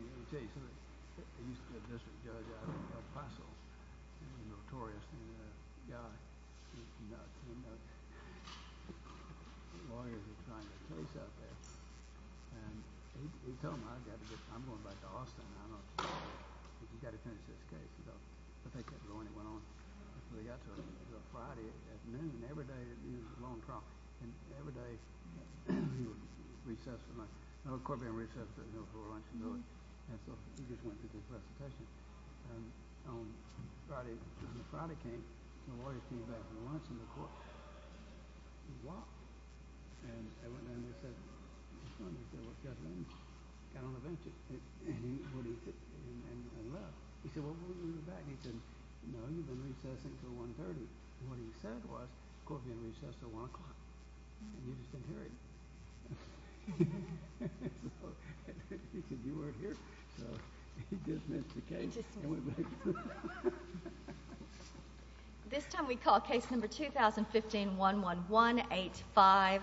He used to be a district judge out in El Paso. He was a notorious guy. He was nuts. Lawyers were trying the case out there. He told them, I'm going back to Austin. I've got to finish this case. I think that's the one he went on. They got to it. It was a Friday at noon. Every day it was a long trial. Every day he would recess for lunch. A court being recessed at noon for lunch and dinner. He just went to his recitation. On the Friday came, the lawyers came back for lunch and the court walked. They went down and they said, what's going on? He said, well, Judge Lynch got on the bench and left. He said, well, we'll be right back. He said, no, you've been recessing until 1.30. What he said was, the court being recessed until 1 o'clock. And you just didn't hear it. He said, you weren't here. So he dismissed the case. This time we call case number 2015-11185,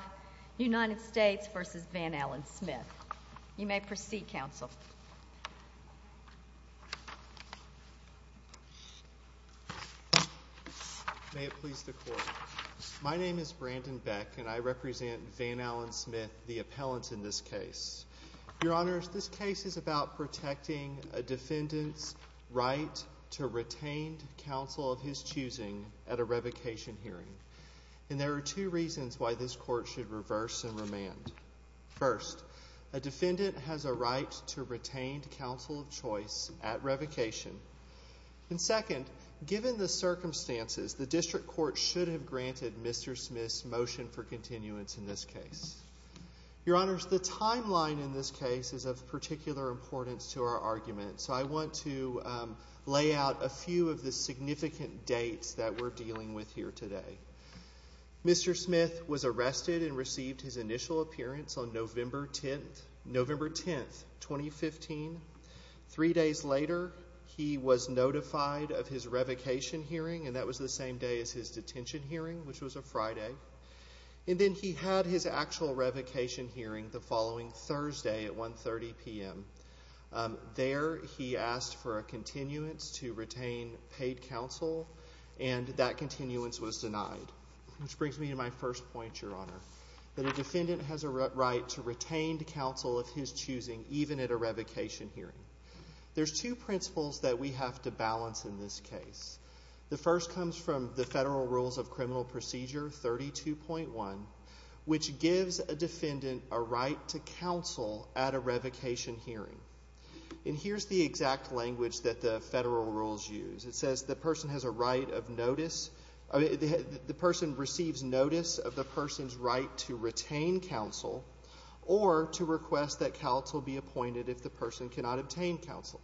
United States v. Van Allen Smith. You may proceed, Counsel. May it please the Court. My name is Brandon Beck and I represent Van Allen Smith, the appellant in this case. Your Honors, this case is about protecting a defendant's right to retain counsel of his choosing at a revocation hearing. And there are two reasons why this court should reverse and remand. First, a defendant has a right to retain counsel of choice at revocation. And second, given the circumstances, the district court should have granted Mr. Smith's motion for continuance in this case. Your Honors, the timeline in this case is of particular importance to our argument. So I want to lay out a few of the significant dates that we're dealing with here today. Mr. Smith was arrested and received his initial appearance on November 10, 2015. Three days later, he was notified of his revocation hearing, and that was the same day as his detention hearing, which was a Friday. And then he had his actual revocation hearing the following Thursday at 1.30 p.m. There, he asked for a continuance to retain paid counsel, and that continuance was denied. Which brings me to my first point, Your Honor, that a defendant has a right to retain counsel of his choosing even at a revocation hearing. There's two principles that we have to balance in this case. The first comes from the Federal Rules of Criminal Procedure 32.1, which gives a defendant a right to counsel at a revocation hearing. And here's the exact language that the Federal Rules use. It says the person has a right of notice, the person receives notice of the person's right to retain counsel, or to request that counsel be appointed if the person cannot obtain counsel.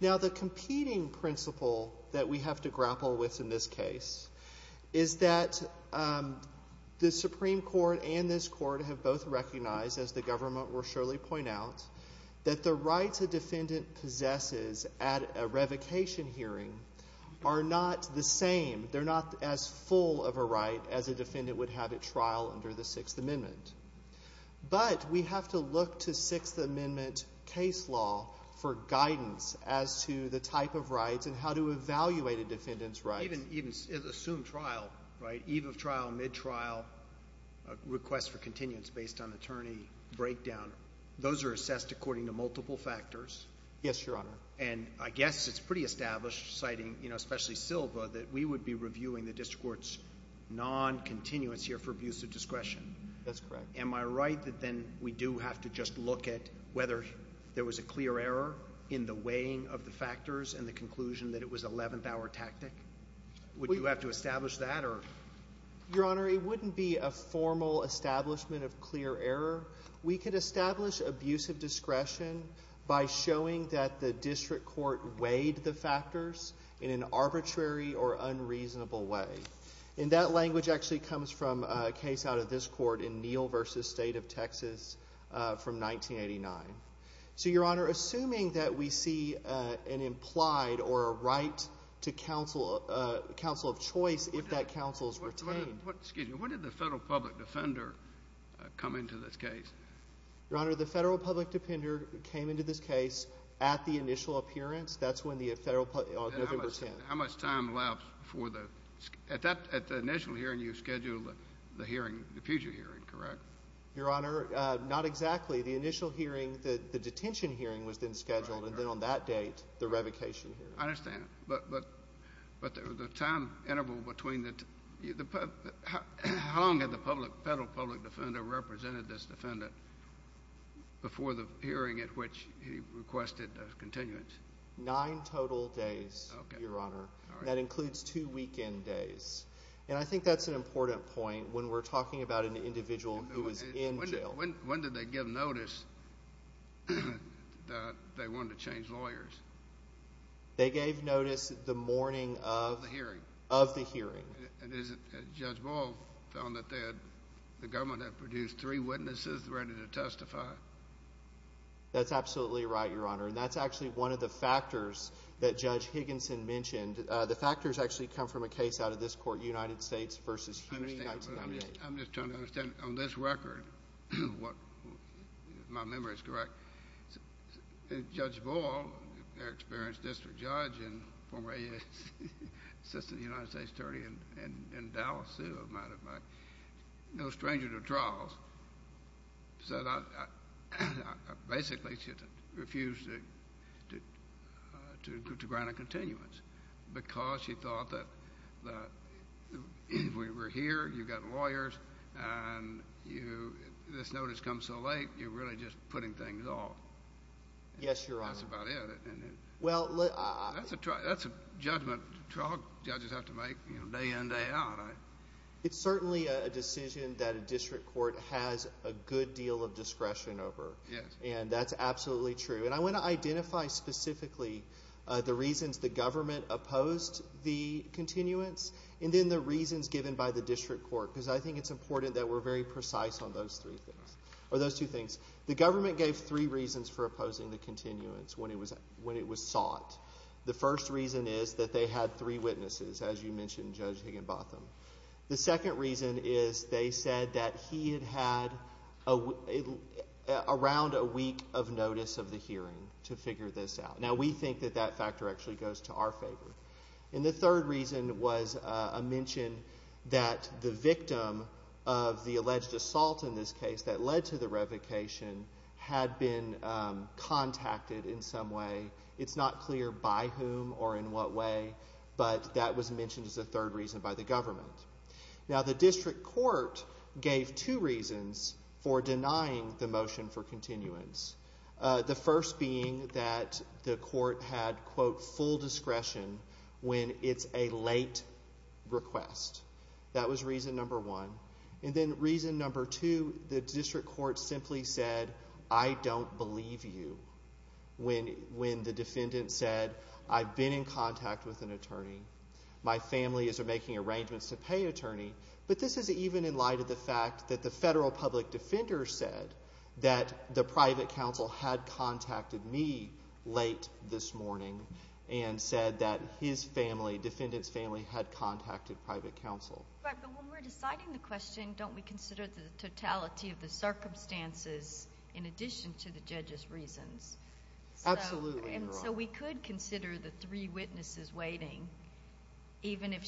Now, the competing principle that we have to grapple with in this case is that the Supreme Court and this court have both recognized, as the government will surely point out, that the rights a defendant possesses at a revocation hearing are not the same. They're not as full of a right as a defendant would have at trial under the Sixth Amendment. But we have to look to Sixth Amendment case law for guidance as to the type of rights and how to evaluate a defendant's rights. Even assumed trial, right? Eve of trial, mid-trial, request for continuance based on attorney breakdown, those are assessed according to multiple factors. Yes, Your Honor. And I guess it's pretty established, citing especially Silva, that we would be reviewing the district court's non-continuance here for abuse of discretion. That's correct. Am I right that then we do have to just look at whether there was a clear error in the weighing of the factors and the conclusion that it was an eleventh-hour tactic? Would you have to establish that? Your Honor, it wouldn't be a formal establishment of clear error. We could establish abuse of discretion by showing that the district court weighed the factors in an arbitrary or unreasonable way. And that language actually comes from a case out of this court in Neal v. State of Texas from 1989. So, Your Honor, assuming that we see an implied or a right to counsel of choice if that counsel is retained— Excuse me. When did the federal public defender come into this case? Your Honor, the federal public defender came into this case at the initial appearance. That's when the federal public—on November 10th. How much time lapsed before the—at the initial hearing, you scheduled the hearing, the future hearing, correct? Your Honor, not exactly. The initial hearing, the detention hearing was then scheduled, and then on that date, the revocation hearing. I understand. But the time interval between the—how long had the federal public defender represented this defendant before the hearing at which he requested continuance? Nine total days, Your Honor. All right. That includes two weekend days. And I think that's an important point when we're talking about an individual who was in jail. When did they give notice that they wanted to change lawyers? They gave notice the morning of— Of the hearing. Of the hearing. And Judge Boyle found that they had—the government had produced three witnesses ready to testify. That's absolutely right, Your Honor. And that's actually one of the factors that Judge Higginson mentioned. The factors actually come from a case out of this court, United States v. Huey, 1998. I understand, but I'm just trying to understand on this record what—if my memory is correct, Judge Boyle, their experienced district judge and former assistant to the United States attorney in Dallas, no stranger to trials, said, basically, she refused to grant a continuance because she thought that if we were here, you've got lawyers, and this notice comes so late, you're really just putting things off. Yes, Your Honor. That's about it. That's a judgment trial judges have to make day in, day out. It's certainly a decision that a district court has a good deal of discretion over. Yes. And that's absolutely true. And I want to identify specifically the reasons the government opposed the continuance and then the reasons given by the district court because I think it's important that we're very precise on those three things or those two things. The government gave three reasons for opposing the continuance when it was sought. The first reason is that they had three witnesses, as you mentioned, Judge Higginbotham. The second reason is they said that he had had around a week of notice of the hearing to figure this out. Now, we think that that factor actually goes to our favor. And the third reason was a mention that the victim of the alleged assault in this case that led to the revocation had been contacted in some way. It's not clear by whom or in what way, but that was mentioned as a third reason by the government. Now, the district court gave two reasons for denying the motion for continuance, the first being that the court had, quote, full discretion when it's a late request. That was reason number one. And then reason number two, the district court simply said, I don't believe you when the defendant said, I've been in contact with an attorney. But this is even in light of the fact that the federal public defender said that the private counsel had contacted me late this morning and said that his family, defendant's family, had contacted private counsel. But when we're deciding the question, don't we consider the totality of the circumstances in addition to the judge's reasons? Absolutely, Your Honor. So we could consider the three witnesses waiting even if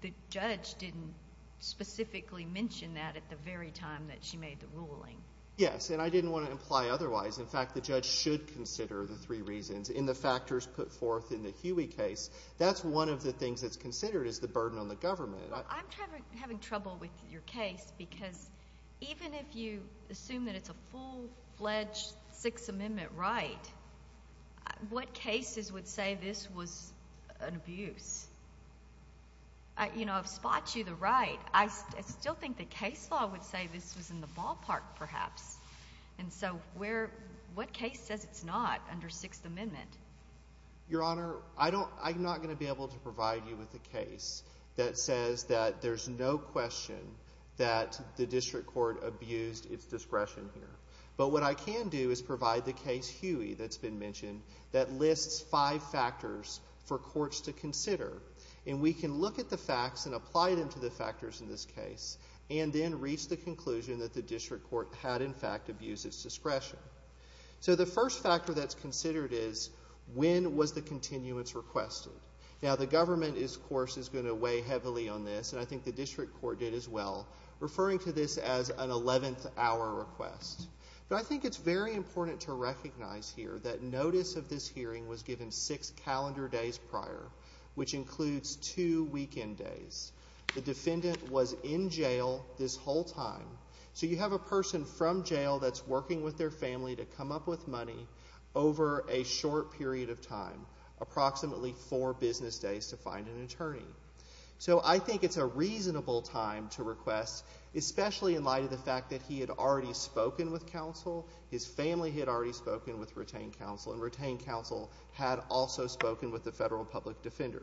the judge didn't specifically mention that at the very time that she made the ruling. Yes, and I didn't want to imply otherwise. In fact, the judge should consider the three reasons in the factors put forth in the Huey case. That's one of the things that's considered is the burden on the government. Well, I'm having trouble with your case because even if you assume that it's a full-fledged Sixth Amendment right, what cases would say this was an abuse? You know, I've spot you the right. I still think the case law would say this was in the ballpark perhaps. And so what case says it's not under Sixth Amendment? Your Honor, I'm not going to be able to provide you with a case that says that there's no question that the district court abused its discretion here. But what I can do is provide the case Huey that's been mentioned that lists five factors for courts to consider. And we can look at the facts and apply them to the factors in this case and then reach the conclusion that the district court had, in fact, abused its discretion. So the first factor that's considered is when was the continuance requested? Now, the government, of course, is going to weigh heavily on this, and I think the district court did as well, referring to this as an 11th-hour request. But I think it's very important to recognize here that notice of this hearing was given six calendar days prior, which includes two weekend days. The defendant was in jail this whole time. So you have a person from jail that's working with their family to come up with money over a short period of time, approximately four business days to find an attorney. So I think it's a reasonable time to request, especially in light of the fact that he had already spoken with counsel, his family had already spoken with retained counsel, and retained counsel had also spoken with the federal public defender.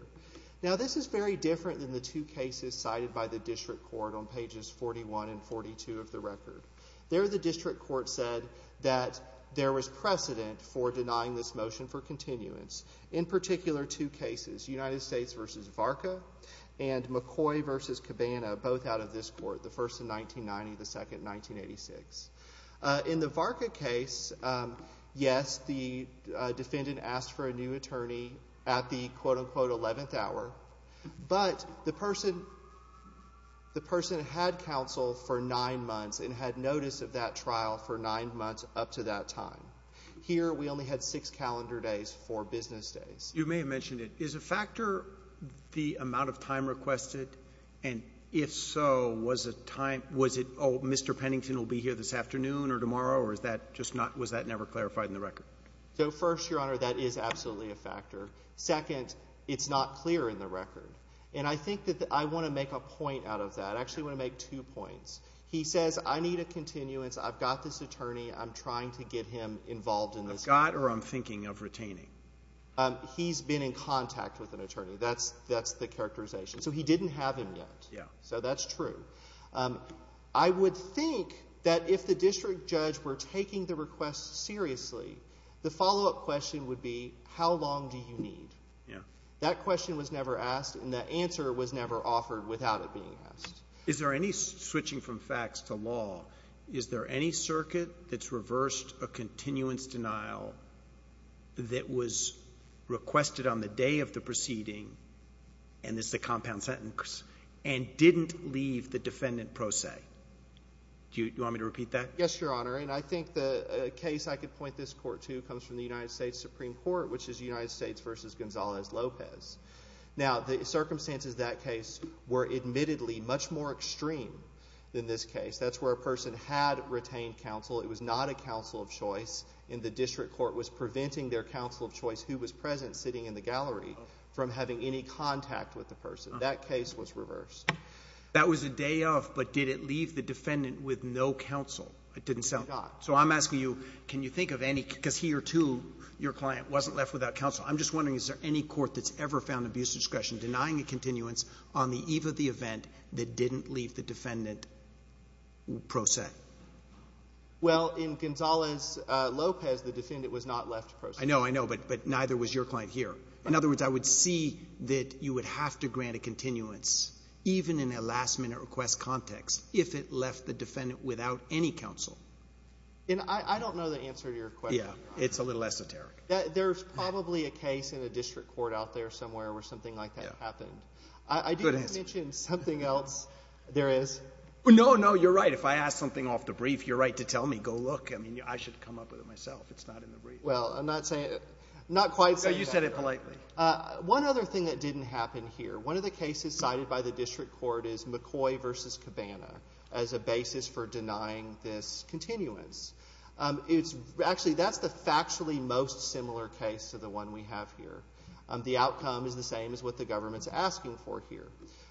Now, this is very different than the two cases cited by the district court on pages 41 and 42 of the record. There, the district court said that there was precedent for denying this motion for continuance, in particular two cases, United States v. Varka and McCoy v. Cabana, both out of this court, the first in 1990, the second in 1986. In the Varka case, yes, the defendant asked for a new attorney at the quote-unquote 11th hour, but the person had counsel for nine months and had notice of that trial for nine months up to that time. Here, we only had six calendar days, four business days. You may have mentioned it. Is a factor the amount of time requested? And if so, was it, oh, Mr. Pennington will be here this afternoon or tomorrow, or was that never clarified in the record? So, first, Your Honor, that is absolutely a factor. Second, it's not clear in the record. And I think that I want to make a point out of that. I actually want to make two points. He says, I need a continuance. I've got this attorney. I'm trying to get him involved in this case. I've got or I'm thinking of retaining? He's been in contact with an attorney. That's the characterization. So he didn't have him yet. Yeah. So that's true. I would think that if the district judge were taking the request seriously, the follow-up question would be, how long do you need? Yeah. That question was never asked, and the answer was never offered without it being asked. Is there any, switching from facts to law, is there any circuit that's reversed a continuance denial that was requested on the day of the proceeding and this is a compound sentence, and didn't leave the defendant pro se? Do you want me to repeat that? Yes, Your Honor. And I think the case I could point this court to comes from the United States Supreme Court, which is United States v. Gonzalez-Lopez. Now, the circumstances of that case were admittedly much more extreme than this case. That's where a person had retained counsel. It was not a counsel of choice, and the district court was preventing their counsel of choice, who was present sitting in the gallery, from having any contact with the person. That case was reversed. That was a day of, but did it leave the defendant with no counsel? It didn't. It did not. So I'm asking you, can you think of any, because he or two, your client, wasn't left without counsel. I'm just wondering, is there any court that's ever found abuse of discretion denying a continuance on the eve of the event that didn't leave the defendant pro se? Well, in Gonzalez-Lopez, the defendant was not left pro se. I know, I know, but neither was your client here. In other words, I would see that you would have to grant a continuance, even in a last-minute request context, if it left the defendant without any counsel. And I don't know the answer to your question. Yeah. It's a little esoteric. There's probably a case in a district court out there somewhere where something like that happened. I didn't mention something else there is. No, no, you're right. If I ask something off the brief, you're right to tell me, go look. I mean, I should come up with it myself. It's not in the brief. Well, I'm not quite saying that. No, you said it politely. One other thing that didn't happen here, one of the cases cited by the district court is McCoy v. Cabana as a basis for denying this continuance. Actually, that's the factually most similar case to the one we have here. The outcome is the same as what the government's asking for here.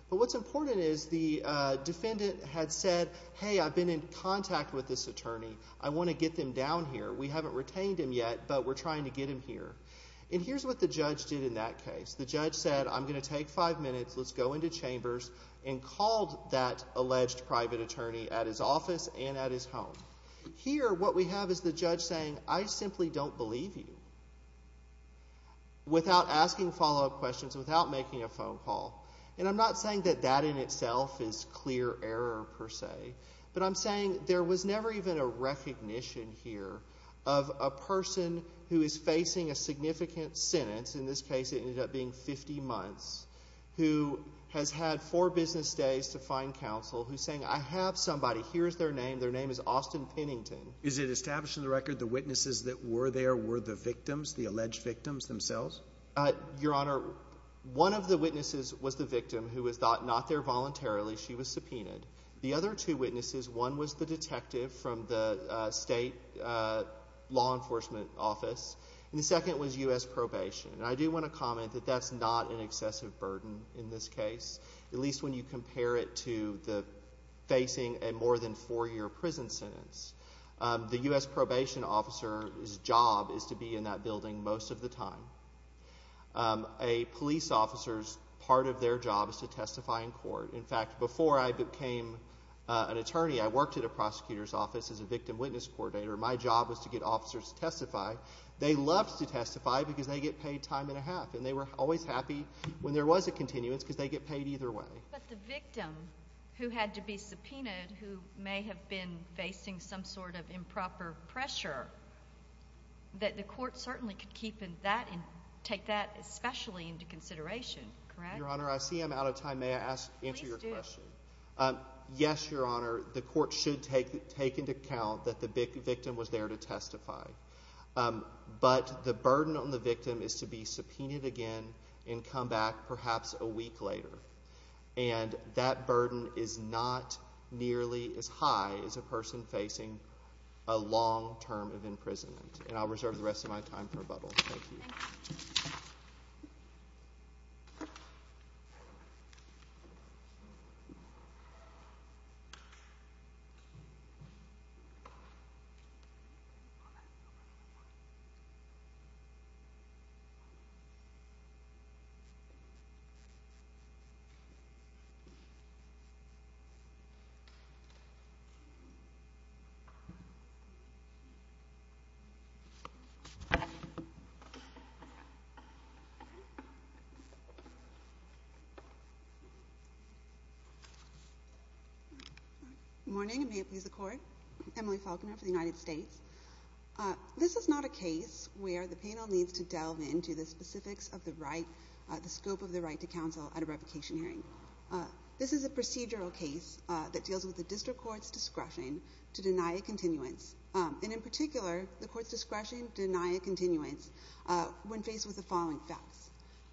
But what's important is the defendant had said, hey, I've been in contact with this attorney. I want to get them down here. We haven't retained him yet, but we're trying to get him here. And here's what the judge did in that case. The judge said, I'm going to take five minutes, let's go into chambers, and called that alleged private attorney at his office and at his home. Here, what we have is the judge saying, I simply don't believe you, without asking follow-up questions, without making a phone call. And I'm not saying that that in itself is clear error per se, but I'm saying there was never even a recognition here of a person who is facing a significant sentence, in this case it ended up being 50 months, who has had four business days to find counsel, who's saying, I have somebody, here's their name, their name is Austin Pennington. Is it established in the record the witnesses that were there were the victims, the alleged victims themselves? Your Honor, one of the witnesses was the victim who was not there voluntarily. She was subpoenaed. The other two witnesses, one was the detective from the state law enforcement office, and the second was U.S. probation. And I do want to comment that that's not an excessive burden in this case, at least when you compare it to facing a more than four-year prison sentence. The U.S. probation officer's job is to be in that building most of the time. A police officer's part of their job is to testify in court. In fact, before I became an attorney, I worked at a prosecutor's office as a victim witness coordinator. My job was to get officers to testify. They loved to testify because they get paid time and a half, and they were always happy when there was a continuance because they get paid either way. But the victim who had to be subpoenaed, who may have been facing some sort of improper pressure, that the court certainly could keep that and take that especially into consideration. Your Honor, I see I'm out of time. May I answer your question? Please do. Yes, Your Honor, the court should take into account that the victim was there to testify. But the burden on the victim is to be subpoenaed again and come back perhaps a week later. And that burden is not nearly as high as a person facing a long term of imprisonment. And I'll reserve the rest of my time for rebuttal. Thank you. Thank you. Thank you. Good morning, and may it please the Court. I'm Emily Falconer for the United States. This is not a case where the panel needs to delve into the specifics of the scope of the right to counsel at a revocation hearing. This is a procedural case that deals with the district court's discretion to deny a continuance. And in particular, the court's discretion to deny a continuance when faced with the following facts.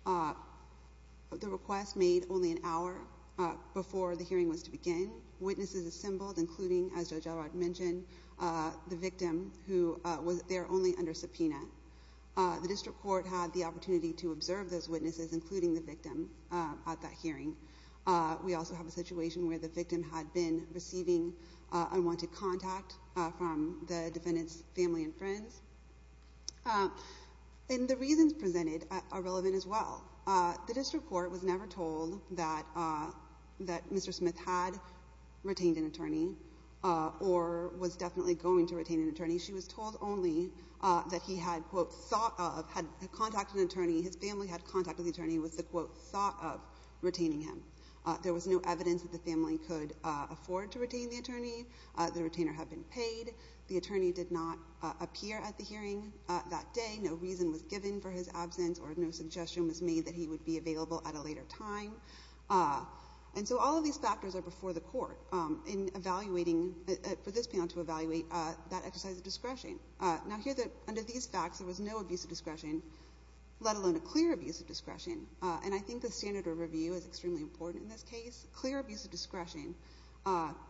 The request made only an hour before the hearing was to begin. Witnesses assembled, including, as Judge Elrod mentioned, the victim who was there only under subpoena. The district court had the opportunity to observe those witnesses, including the victim, at that hearing. We also have a situation where the victim had been receiving unwanted contact from the defendant's family and friends. And the reasons presented are relevant as well. The district court was never told that Mr. Smith had retained an attorney or was definitely going to retain an attorney. She was told only that he had, quote, thought of, had contacted an attorney. His family had contacted the attorney with the, quote, thought of retaining him. There was no evidence that the family could afford to retain the attorney. The retainer had been paid. The attorney did not appear at the hearing that day. No reason was given for his absence, or no suggestion was made that he would be available at a later time. And so all of these factors are before the court in evaluating, for this panel to evaluate, that exercise of discretion. Now, here, under these facts, there was no abuse of discretion, let alone a clear abuse of discretion. And I think the standard of review is extremely important in this case. Clear abuse of discretion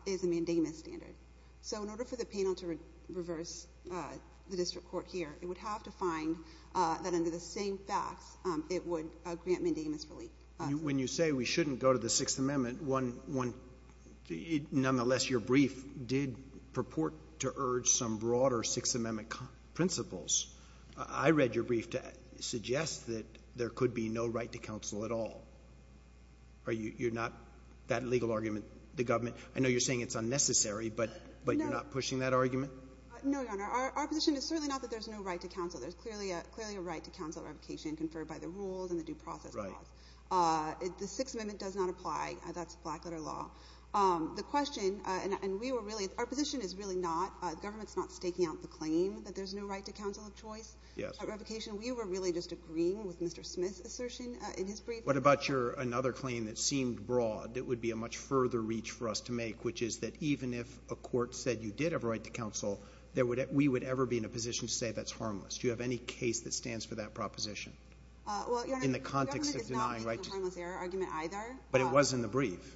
is a mandamus standard. So in order for the panel to reverse the district court here, it would have to find that under the same facts it would grant mandamus relief. When you say we shouldn't go to the Sixth Amendment, nonetheless, your brief did purport to urge some broader Sixth Amendment principles. I read your brief to suggest that there could be no right to counsel at all. I know you're saying it's unnecessary, but you're not pushing that argument? No, Your Honor. Our position is certainly not that there's no right to counsel. There's clearly a right to counsel revocation conferred by the rules and the due process laws. Right. The Sixth Amendment does not apply. That's black-letter law. The question, and we were really — our position is really not, the government's not staking out the claim that there's no right to counsel of choice. Yes. At revocation, we were really just agreeing with Mr. Smith's assertion in his brief. What about your — another claim that seemed broad that would be a much further reach for us to make, which is that even if a court said you did have a right to counsel, we would ever be in a position to say that's harmless? Do you have any case that stands for that proposition in the context of denying right to counsel? Your Honor, it's not in the harmless error argument either. But it was in the brief.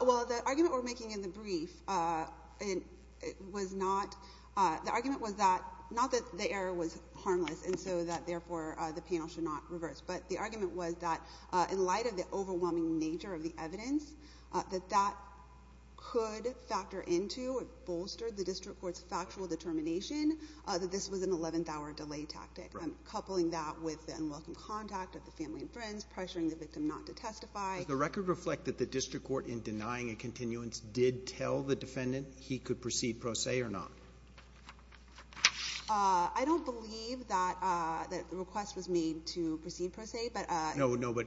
Well, the argument we're making in the brief was not — the argument was that — not that the error was harmless and so that therefore the panel should not reverse. But the argument was that in light of the overwhelming nature of the evidence, that that could factor into or bolster the district court's factual determination that this was an eleventh-hour delay tactic. Right. Coupling that with the unwelcome contact of the family and friends, pressuring the victim not to testify. Does the record reflect that the district court in denying a continuance did tell the defendant he could proceed pro se or not? I don't believe that the request was made to proceed pro se, but — No, no. But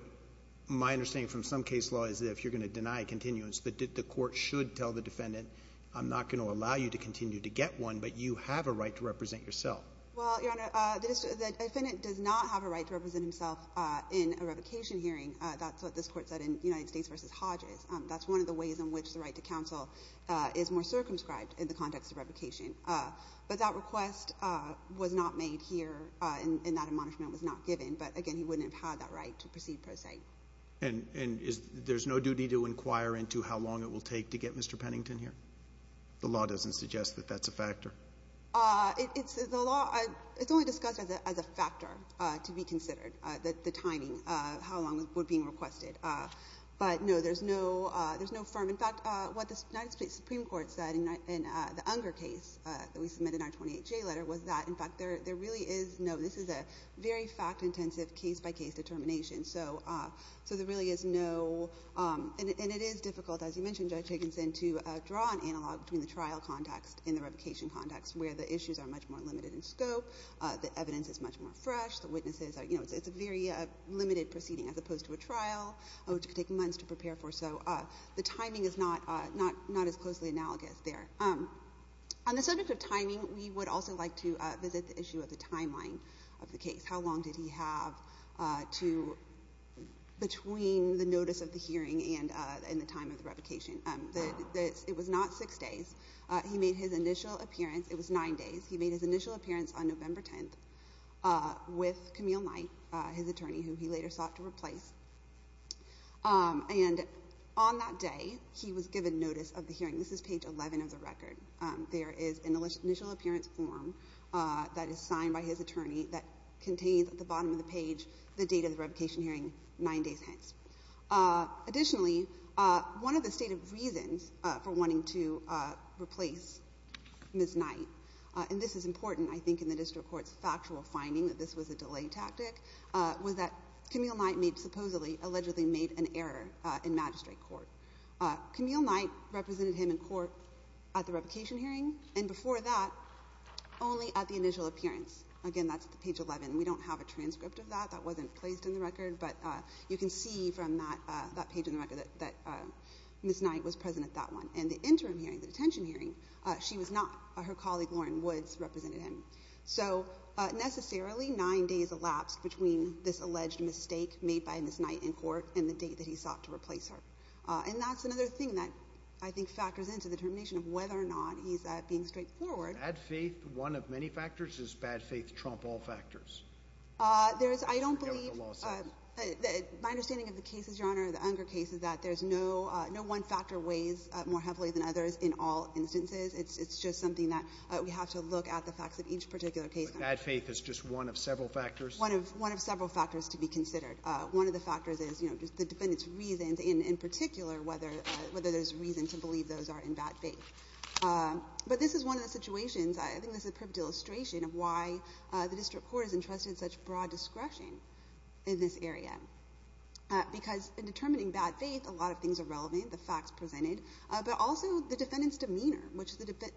my understanding from some case law is that if you're going to deny a continuance, the court should tell the defendant, I'm not going to allow you to continue to get one, but you have a right to represent yourself. Well, Your Honor, the defendant does not have a right to represent himself in a revocation hearing. That's what this Court said in United States v. Hodges. That's one of the ways in which the right to counsel is more circumscribed in the context of revocation. But that request was not made here, and that admonishment was not given. But, again, he wouldn't have had that right to proceed pro se. And there's no duty to inquire into how long it will take to get Mr. Pennington here? The law doesn't suggest that that's a factor. It's only discussed as a factor to be considered, the timing, how long it would be requested. But, no, there's no firm. In fact, what the United States Supreme Court said in the Unger case that we submitted in our 28-J letter was that, in fact, there really is no ñ this is a very fact-intensive case-by-case determination. So there really is no ñ and it is difficult, as you mentioned, Judge Higginson, to draw an analog between the trial context and the revocation context, where the issues are much more limited in scope, the evidence is much more fresh, the witnesses ñ you know, it's a very limited proceeding as opposed to a trial, which could take months to prepare for. So the timing is not as closely analogous there. On the subject of timing, we would also like to visit the issue of the timeline of the case. How long did he have to ñ between the notice of the hearing and the time of the revocation? It was not 6 days. He made his initial appearance ñ it was 9 days. He made his initial appearance on November 10th with Camille Knight, his attorney, who he later sought to replace. And on that day, he was given notice of the hearing. This is page 11 of the record. There is an initial appearance form that is signed by his attorney that contains at the bottom of the page the date of the revocation hearing, 9 days hence. Additionally, one of the stated reasons for wanting to replace Ms. Knight ñ and this is important, I think, in the district court's factual finding that this was a delay tactic ñ was that Camille Knight made ñ supposedly, allegedly made an error in magistrate court. Camille Knight represented him in court at the revocation hearing, and before that only at the initial appearance. Again, that's page 11. We don't have a transcript of that. That wasn't placed in the record. But you can see from that page in the record that Ms. Knight was present at that one. And the interim hearing, the detention hearing, she was not. Her colleague, Lauren Woods, represented him. So, necessarily, 9 days elapsed between this alleged mistake made by Ms. Knight in court and the date that he sought to replace her. And that's another thing that I think factors into the determination of whether or not he's being straightforward. Bad faith. One of many factors. Does bad faith trump all factors? There's ñ I don't believe ñ There's a number of other lawsuits. My understanding of the cases, Your Honor, the Unger case, is that there's no one factor weighs more heavily than others in all instances. It's just something that we have to look at the facts of each particular case. But bad faith is just one of several factors? One of several factors to be considered. One of the factors is, you know, the defendant's reasons, and in particular whether there's reason to believe those are in bad faith. But this is one of the situations ñ I think this is a perfect illustration of why the district court has entrusted such broad discretion in this area. Because in determining bad faith, a lot of things are relevant, the facts presented, but also the defendant's demeanor,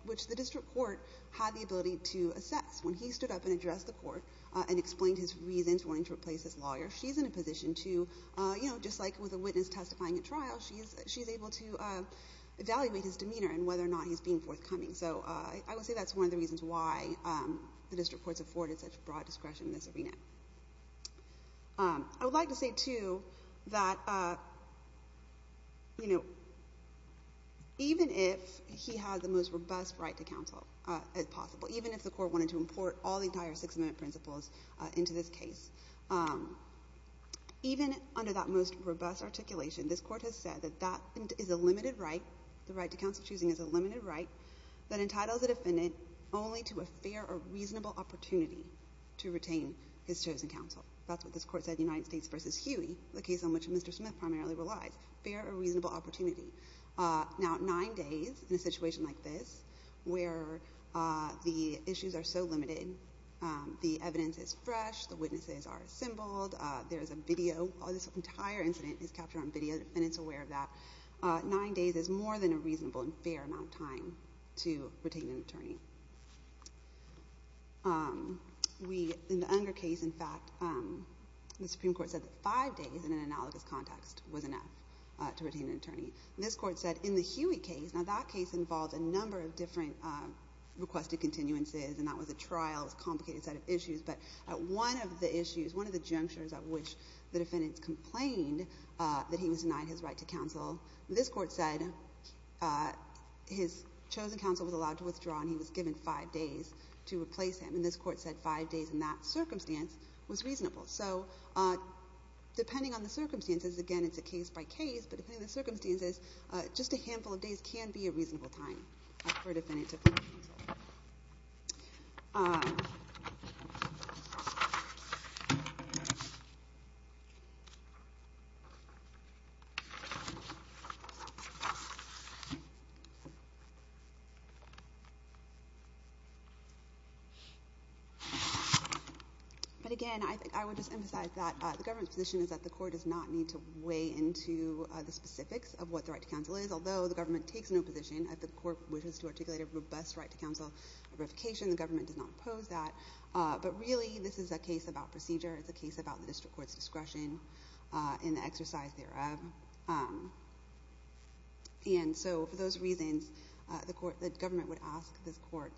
which the district court had the ability to assess. When he stood up and addressed the court and explained his reasons wanting to replace his lawyer, she's in a position to, you know, just like with a witness testifying at trial, she's able to evaluate his demeanor and whether or not he's being forthcoming. So I would say that's one of the reasons why the district court's afforded such broad discretion in this arena. I would like to say, too, that, you know, even if he had the most robust right to counsel as possible, even if the court wanted to import all the entire Sixth Amendment principles into this case, even under that most robust articulation, this court has said that that is a limited right ñ the right to counsel choosing is a limited right ñ that entitles a defendant only to a fair or reasonable opportunity to retain his chosen counsel. That's what this court said in United States v. Huey, the case on which Mr. Smith primarily relies ñ fair or reasonable opportunity. Now, nine days in a situation like this, where the issues are so limited, the evidence is fresh, the witnesses are assembled, there is a video ñ this entire incident is captured on video. The defendant is aware of that. Nine days is more than a reasonable and fair amount of time to retain an attorney. In the Unger case, in fact, the Supreme Court said that five days in an analogous context was enough to retain an attorney. This court said in the Huey case ñ now, that case involved a number of different requested continuances, and that was a trial, a complicated set of issues. But one of the issues, one of the junctures at which the defendants complained that he was denied his right to counsel, this court said his chosen counsel was allowed to withdraw and he was given five days to replace him. And this court said five days in that circumstance was reasonable. So depending on the circumstances ñ again, it's a case-by-case, but depending on the circumstances, just a handful of days can be a reasonable time for a defendant But again, I would just emphasize that the government's position is that the court does not need to weigh into the specifics of what the right to counsel is, although the government takes no position. If the court wishes to articulate a robust right to counsel verification, the government does not oppose that. But really, this is a case about procedure. It's a case about the district court's discretion in the exercise thereof. And so for those reasons, the government would ask this court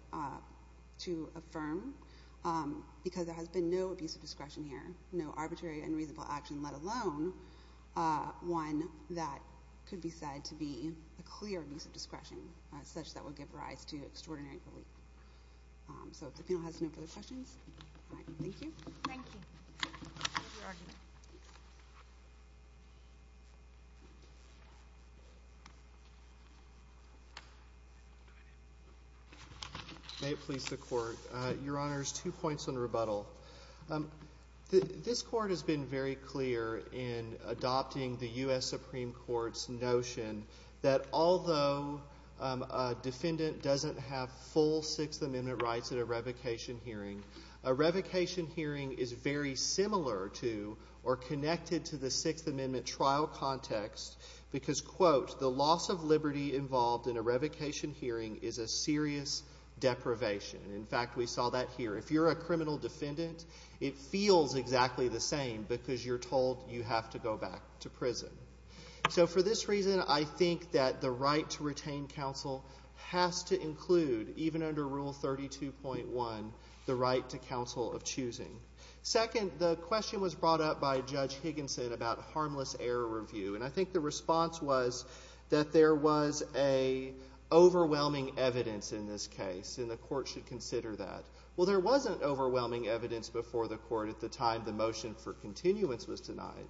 to affirm, because there has been no abuse of discretion here, no arbitrary and reasonable action, let alone one that could be said to be a clear abuse of discretion such that would give rise to extraordinary relief. So if the panel has no further questions, thank you. Thank you. May it please the Court. Your Honors, two points on rebuttal. This Court has been very clear in adopting the U.S. Supreme Court's notion that although a defendant doesn't have full Sixth Amendment rights at a revocation hearing, a revocation hearing is very similar to or connected to the Sixth Amendment trial context because, quote, the loss of liberty involved in a revocation hearing is a serious deprivation. In fact, we saw that here. If you're a criminal defendant, it feels exactly the same because you're told you have to go back to prison. So for this reason, I think that the right to retain counsel has to include, even under Rule 32.1, the right to counsel of choosing. Second, the question was brought up by Judge Higginson about harmless error review. And I think the response was that there was an overwhelming evidence in this case, and the Court should consider that. Well, there wasn't overwhelming evidence before the Court at the time the motion for continuance was denied.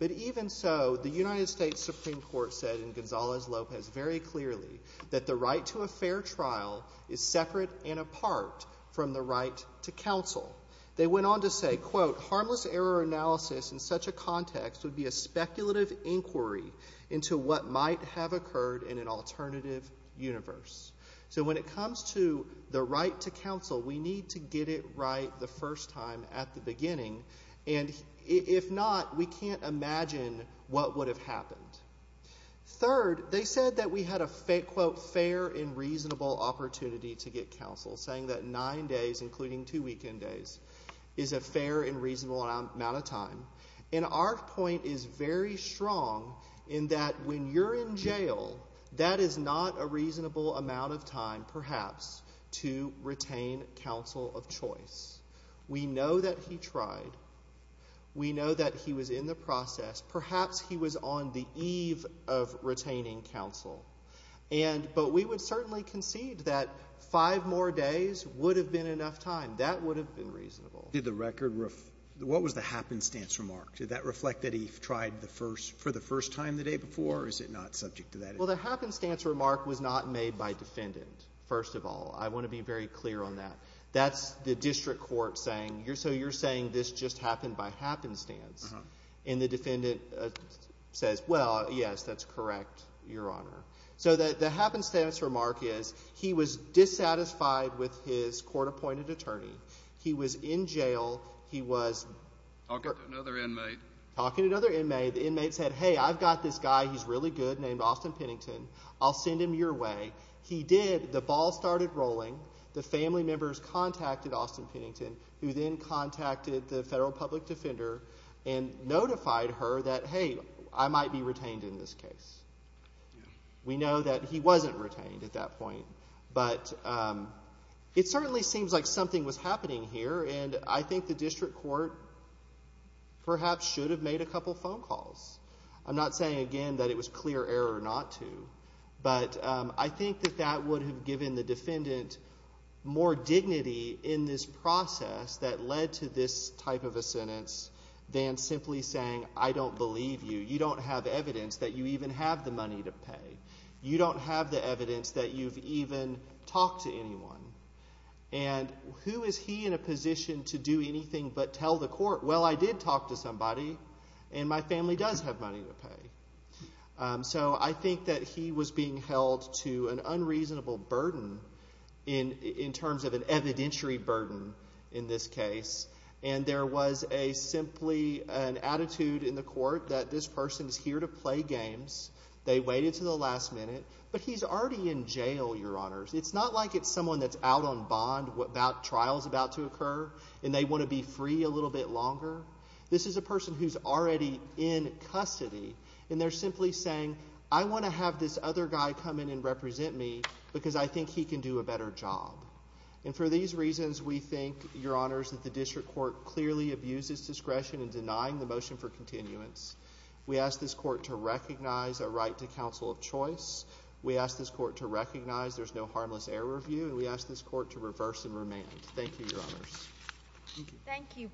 But even so, the United States Supreme Court said in Gonzalez-Lopez very clearly that the right to a fair trial is separate and apart from the right to counsel. They went on to say, quote, harmless error analysis in such a context would be a speculative inquiry into what might have occurred in an alternative universe. So when it comes to the right to counsel, we need to get it right the first time at the beginning. And if not, we can't imagine what would have happened. Third, they said that we had a, quote, fair and reasonable opportunity to get counsel, saying that nine days, including two weekend days, is a fair and reasonable amount of time. And our point is very strong in that when you're in jail, that is not a reasonable amount of time, perhaps, to retain counsel of choice. We know that he tried. We know that he was in the process. Perhaps he was on the eve of retaining counsel. But we would certainly concede that five more days would have been enough time. That would have been reasonable. Did the record, what was the happenstance remark? Did that reflect that he tried for the first time the day before, or is it not subject to that? Well, the happenstance remark was not made by defendant, first of all. I want to be very clear on that. That's the district court saying, so you're saying this just happened by happenstance. And the defendant says, well, yes, that's correct, Your Honor. So the happenstance remark is he was dissatisfied with his court-appointed attorney. He was in jail. He was talking to another inmate. The inmate said, hey, I've got this guy, he's really good, named Austin Pennington. I'll send him your way. He did. The ball started rolling. The family members contacted Austin Pennington, who then contacted the federal public defender and notified her that, hey, I might be retained in this case. We know that he wasn't retained at that point. But it certainly seems like something was happening here, and I think the district court perhaps should have made a couple phone calls. I'm not saying, again, that it was clear error not to, but I think that that would have given the defendant more dignity in this process that led to this type of a sentence than simply saying, I don't believe you. You don't have evidence that you even have the money to pay. You don't have the evidence that you've even talked to anyone. And who is he in a position to do anything but tell the court, well, I did talk to somebody, and my family does have money to pay. So I think that he was being held to an unreasonable burden in terms of an evidentiary burden in this case, and there was simply an attitude in the court that this person is here to play games. They waited until the last minute, but he's already in jail, Your Honors. It's not like it's someone that's out on bond about trials about to occur, and they want to be free a little bit longer. This is a person who's already in custody, and they're simply saying, I want to have this other guy come in and represent me because I think he can do a better job. And for these reasons, we think, Your Honors, that the district court clearly abuses discretion in denying the motion for continuance. We ask this court to recognize a right to counsel of choice. We ask this court to recognize there's no harmless error view, and we ask this court to reverse and remand. Thank you, Your Honors. Thank you.